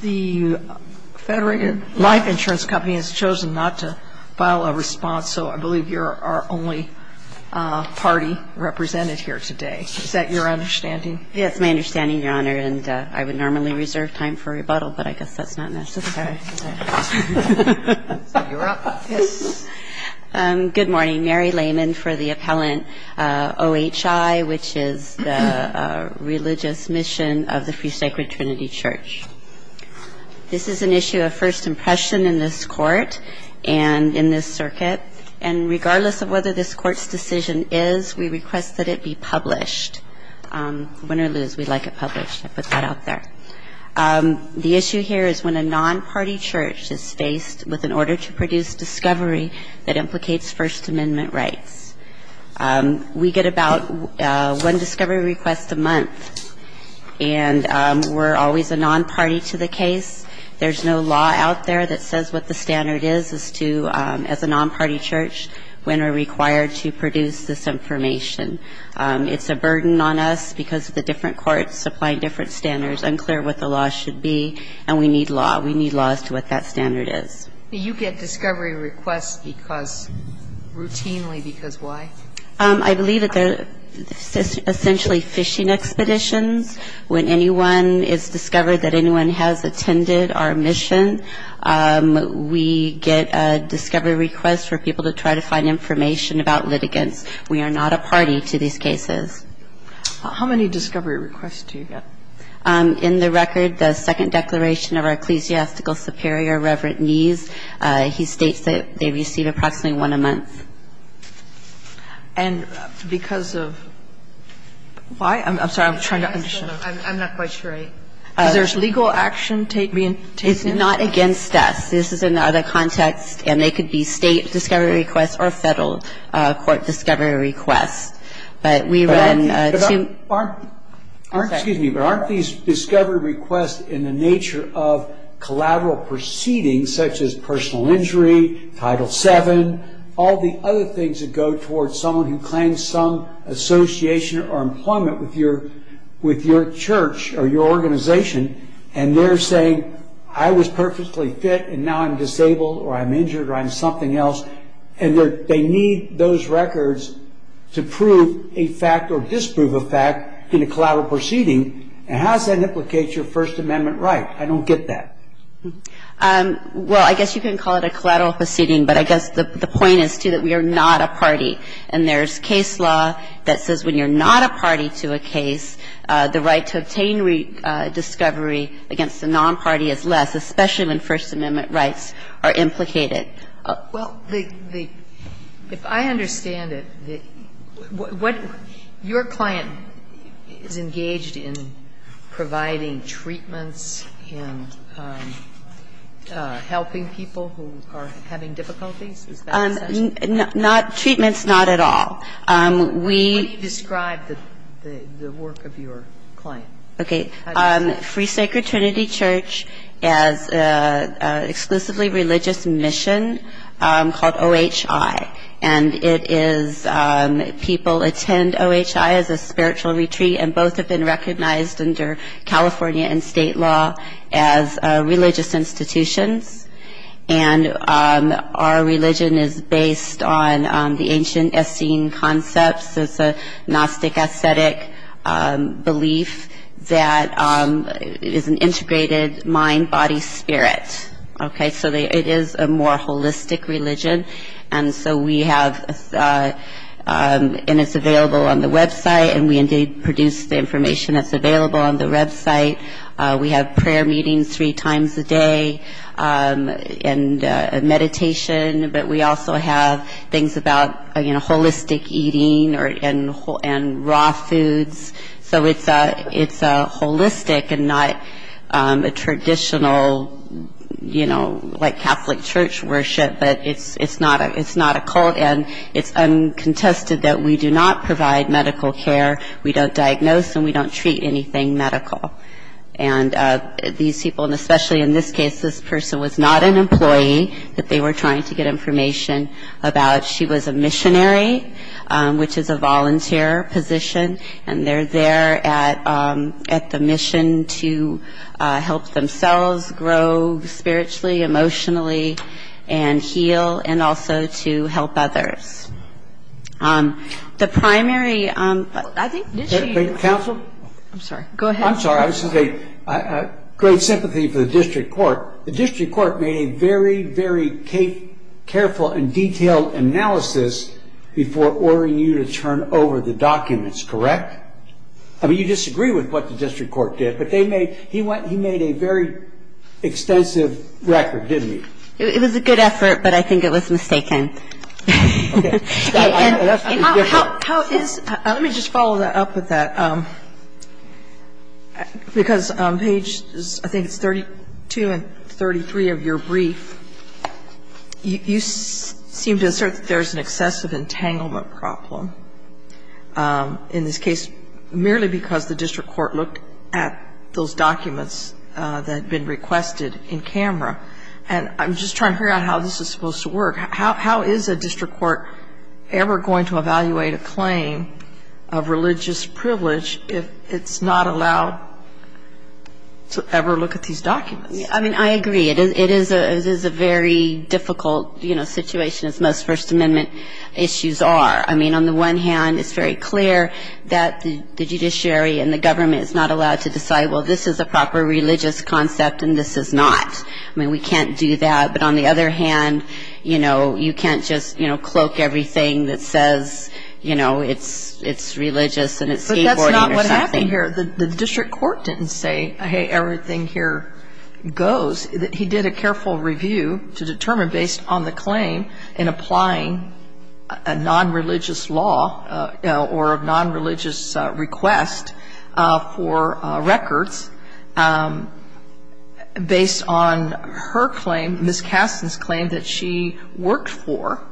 The Federated Life Insurance Company has chosen not to file a response, so I believe you're our only party represented here today. Is that your understanding? Yes, it's my understanding, Your Honor, and I would normally reserve time for rebuttal, but I guess that's not necessary. You're up. Good morning. Mary Lehman for the appellant OHI, which is the religious mission of the Free Sacred Trinity Church. This is an issue of first impression in this Court and in this circuit, and regardless of whether this Court's decision is, we request that it be published. Win or lose, we'd like it published. I put that out there. The issue here is when a non-party church is faced with an order to produce discovery that implicates First Amendment rights. We get about one discovery request a month, and we're always a non-party to the case. There's no law out there that says what the standard is as to, as a non-party church, when we're required to produce this information. It's a burden on us because the different courts supply different standards. I'm clear what the law should be, and we need law. We need law as to what that standard is. Do you get discovery requests because, routinely, because why? I believe that they're essentially fishing expeditions. When anyone is discovered that anyone has attended our mission, we get a discovery request for people to try to find information about litigants. We are not a party to these cases. How many discovery requests do you get? In the record, the second declaration of our ecclesiastical superior, Reverend Knees, he states that they receive approximately one a month. And because of why? I'm sorry. I'm trying to understand. I'm not quite sure. Is there legal action being taken? It's not against us. This is another context, and they could be state discovery requests or federal court discovery requests. But we run two- But aren't these discovery requests in the nature of collateral proceedings, such as personal injury, Title VII, all the other things that go towards someone who claims some association or employment with your church or your organization, and they're saying, I was perfectly fit, and now I'm disabled or I'm injured or I'm something else. And they need those records to prove a fact or disprove a fact in a collateral proceeding. And how does that implicate your First Amendment right? I don't get that. Well, I guess you can call it a collateral proceeding, but I guess the point is, too, that we are not a party. And there's case law that says when you're not a party to a case, the right to obtain discovery against a non-party is less, especially when First Amendment rights are implicated. Well, the – if I understand it, what – your client is engaged in providing treatments and helping people who are having difficulties? Is that what you're saying? Not – treatments, not at all. We – What do you describe the work of your client? Okay. Free Sacred Trinity Church has an exclusively religious mission called OHI. And it is – people attend OHI as a spiritual retreat, and both have been recognized under California and state law as religious institutions. And our religion is based on the ancient Essene concepts. It's a Gnostic ascetic belief that is an integrated mind, body, spirit. Okay? So it is a more holistic religion. And so we have – and it's available on the website, and we indeed produce the information that's available on the website. We have prayer meetings three times a day and meditation. But we also have things about, you know, holistic eating and raw foods. So it's holistic and not a traditional, you know, like Catholic church worship. But it's not a cult, and it's uncontested that we do not provide medical care. We don't diagnose, and we don't treat anything medical. And these people – and especially in this case, this person was not an employee that they were trying to get information about. She was a missionary, which is a volunteer position. And they're there at the mission to help themselves grow spiritually, emotionally, and heal, and also to help others. The primary – I think – Counsel? I'm sorry. Go ahead. I'm sorry. I was going to say great sympathy for the district court. The district court made a very, very careful and detailed analysis before ordering you to turn over the documents, correct? I mean, you disagree with what the district court did, but they made – he made a very extensive record, didn't he? It was a good effort, but I think it was mistaken. Okay. And how is – let me just follow up with that. Because on pages – I think it's 32 and 33 of your brief, you seem to assert that there's an excessive entanglement problem in this case, merely because the district court looked at those documents that had been requested in camera. And I'm just trying to figure out how this is supposed to work. How is a district court ever going to evaluate a claim of religious privilege if it's not allowed to ever look at these documents? I mean, I agree. It is a very difficult situation, as most First Amendment issues are. I mean, on the one hand, it's very clear that the judiciary and the government is not allowed to decide, well, this is a proper religious concept and this is not. I mean, we can't do that. But on the other hand, you know, you can't just, you know, cloak everything that says, you know, it's religious and it's skateboarding. But that's not what happened here. The district court didn't say, hey, everything here goes. He did a careful review to determine based on the claim and applying a nonreligious law or a nonreligious request for records. Based on her claim, Ms. Kasten's claim that she worked for,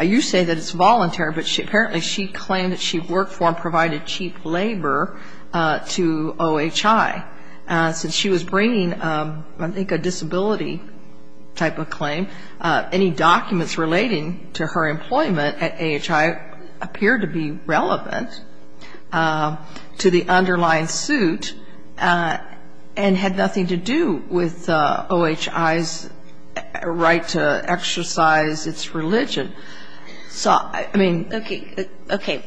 you say that it's voluntary, but apparently she claimed that she worked for and provided cheap labor to OHI. Since she was bringing, I think, a disability type of claim, any documents relating to her employment at OHI appeared to be relevant to the underlying suit. And had nothing to do with OHI's right to exercise its religion. So, I mean. Okay.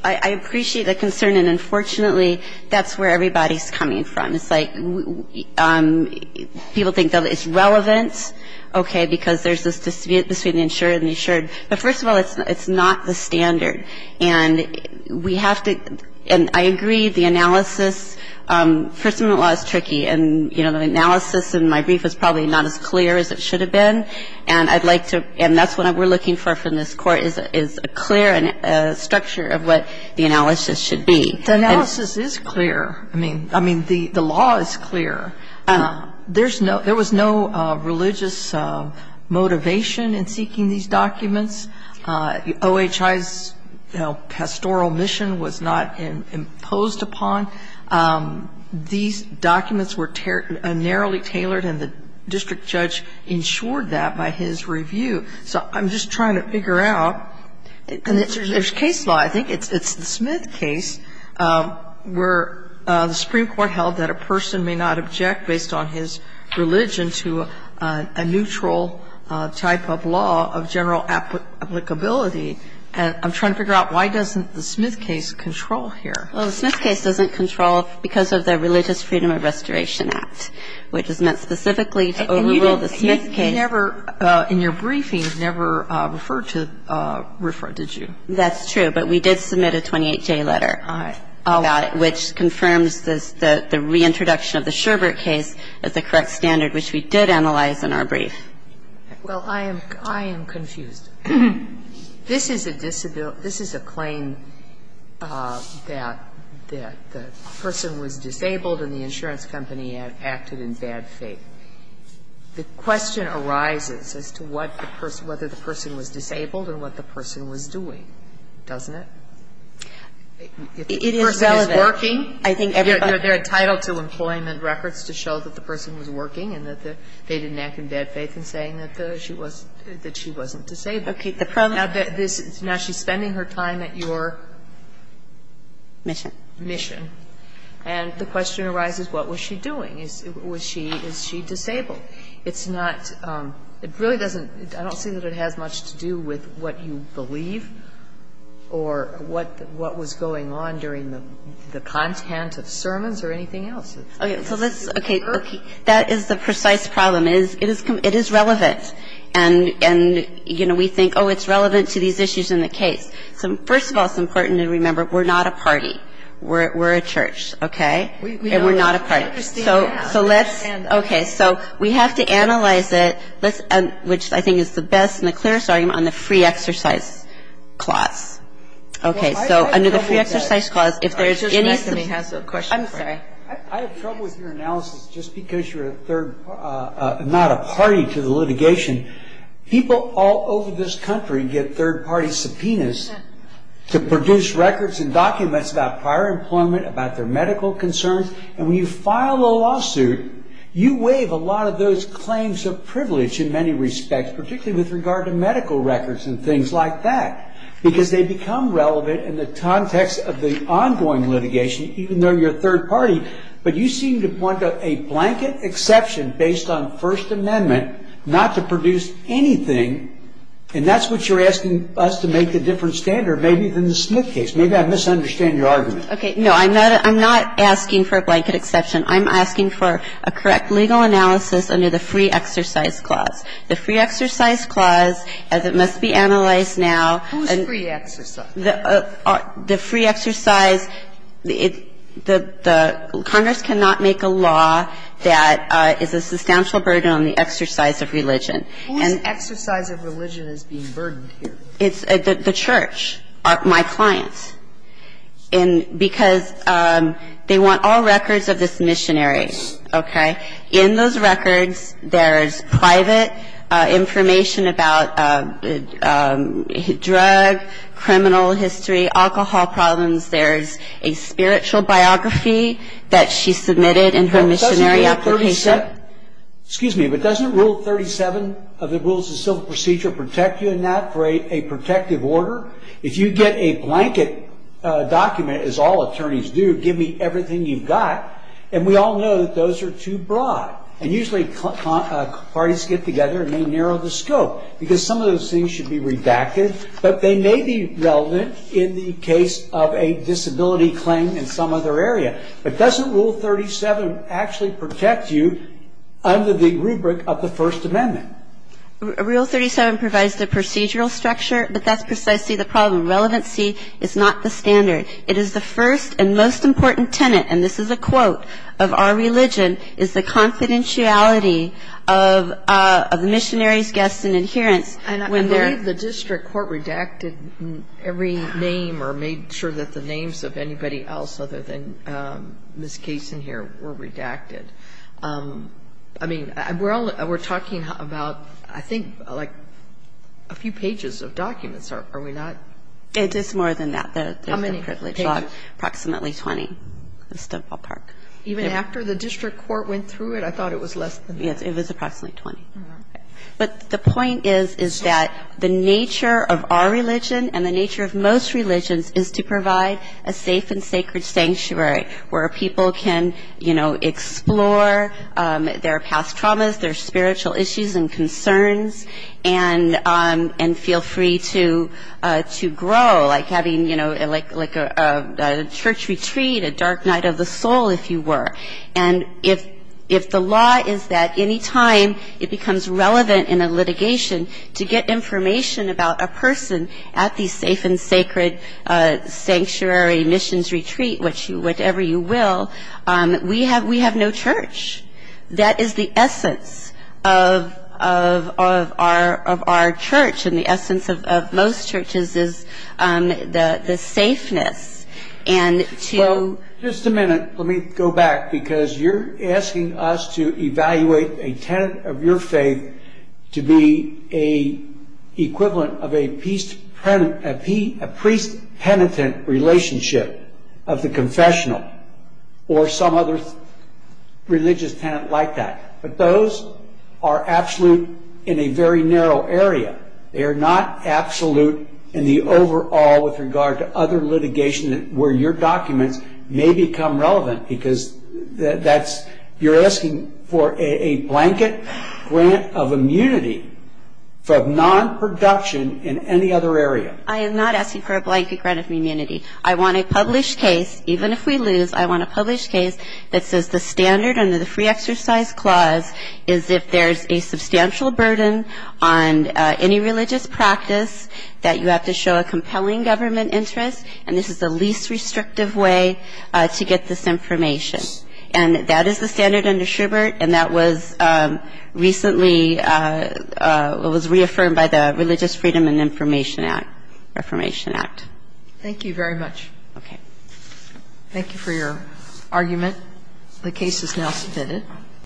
I appreciate the concern and, unfortunately, that's where everybody's coming from. It's like people think that it's relevant, okay, because there's this dispute between the insured and the insured. But first of all, it's not the standard. And we have to, and I agree, the analysis, first of all, is tricky. And, you know, the analysis in my brief is probably not as clear as it should have been. And I'd like to, and that's what we're looking for from this court, is a clear structure of what the analysis should be. The analysis is clear. I mean, the law is clear. There was no religious motivation in seeking these documents. OHI's, you know, pastoral mission was not imposed upon. These documents were narrowly tailored, and the district judge insured that by his review. So I'm just trying to figure out, and there's case law, I think. It's the Smith case where the Supreme Court held that a person may not object based on his religion to a neutral type of law of general applicability. And I'm trying to figure out why doesn't the Smith case control here? Well, the Smith case doesn't control because of the Religious Freedom of Restoration Act, which is meant specifically to overrule the Smith case. And you never, in your briefing, never referred to RFRA, did you? That's true. But we did submit a 28-J letter. All right. Which confirms the reintroduction of the Sherbert case as the correct standard, which we did analyze in our brief. Well, I am confused. This is a claim that the person was disabled and the insurance company acted in bad faith. The question arises as to whether the person was disabled and what the person was doing, doesn't it? If the person is working, they're entitled to employment records to show that the person was working and that they didn't act in bad faith in saying that she wasn't disabled. Now, she's spending her time at your? Mission. Mission. And the question arises, what was she doing? Was she – is she disabled? It's not – it really doesn't – I don't see that it has much to do with what you believe or what was going on during the content of sermons or anything else. Okay. So let's – okay. That is the precise problem. It is relevant. And, you know, we think, oh, it's relevant to these issues in the case. So first of all, it's important to remember we're not a party. We're a church, okay? And we're not a party. So let's – okay. So we have to analyze it, which I think is the best and the clearest argument on the free exercise clause. Okay. So under the free exercise clause, if there's any – Judge Messonnier has a question for you. I'm sorry. I have trouble with your analysis just because you're a third – not a party to the litigation. People all over this country get third-party subpoenas to produce records and documents about prior employment, about their medical concerns. And when you file a lawsuit, you waive a lot of those claims of privilege in many respects, particularly with regard to medical records and things like that, because they become relevant in the context of the ongoing litigation, even though you're a third party. But you seem to want a blanket exception based on First Amendment not to produce anything, and that's what you're asking us to make the different standard, maybe, than the Smith case. Maybe I misunderstand your argument. Okay. No, I'm not asking for a blanket exception. I'm asking for a correct legal analysis under the free exercise clause. The free exercise clause, as it must be analyzed now – Who is free exercise? The free exercise – the Congress cannot make a law that is a substantial burden on the exercise of religion. Whose exercise of religion is being burdened here? It's the church, my clients. And because they want all records of this missionary, okay? In those records, there is private information about drug, criminal history, alcohol problems. There is a spiritual biography that she submitted in her missionary application. Excuse me, but doesn't Rule 37 of the Rules of Civil Procedure protect you in that for a protective order? If you get a blanket document, as all attorneys do, give me everything you've got. And we all know that those are too broad. And usually parties get together and they narrow the scope, because some of those things should be redacted. But they may be relevant in the case of a disability claim in some other area. But doesn't Rule 37 actually protect you under the rubric of the First Amendment? Rule 37 provides the procedural structure, but that's precisely the problem. Relevancy is not the standard. It is the first and most important tenet, and this is a quote of our religion, is the confidentiality of the missionaries, guests, and adherents when they're I believe the district court redacted every name or made sure that the names of anybody else other than Ms. Cason here were redacted. I mean, we're talking about, I think, like a few pages of documents, are we not? It is more than that. How many pages? Approximately 20. Even after the district court went through it, I thought it was less than that. Yes, it was approximately 20. But the point is, is that the nature of our religion and the nature of most religions is to provide a safe and sacred sanctuary where people can, you know, explore their past traumas, their spiritual issues and concerns, and feel free to grow. Like having, you know, like a church retreat, a dark night of the soul, if you were. And if the law is that any time it becomes relevant in a litigation to get information about a person at the safe and sacred sanctuary missions retreat, whichever you will, we have no church. That is the essence of our church. And the essence of most churches is the safeness. Well, just a minute. Let me go back. Because you're asking us to evaluate a tenet of your faith to be a equivalent of a priest-penitent relationship of the confessional or some other religious tenet like that. But those are absolute in a very narrow area. They are not absolute in the overall with regard to other litigation where your documents may become relevant because that's, you're asking for a blanket grant of immunity from non-production in any other area. I am not asking for a blanket grant of immunity. I want a published case, even if we lose, I want a published case that says the standard under the Free Exercise Clause is if there's a substantial burden on any religious practice that you have to show a compelling government interest, and this is the least restrictive way to get this information. And that is the standard under Schubert, and that was recently was reaffirmed by the Religious Freedom and Reformation Act. Thank you very much. Okay. Thank you for your argument. The case is now submitted.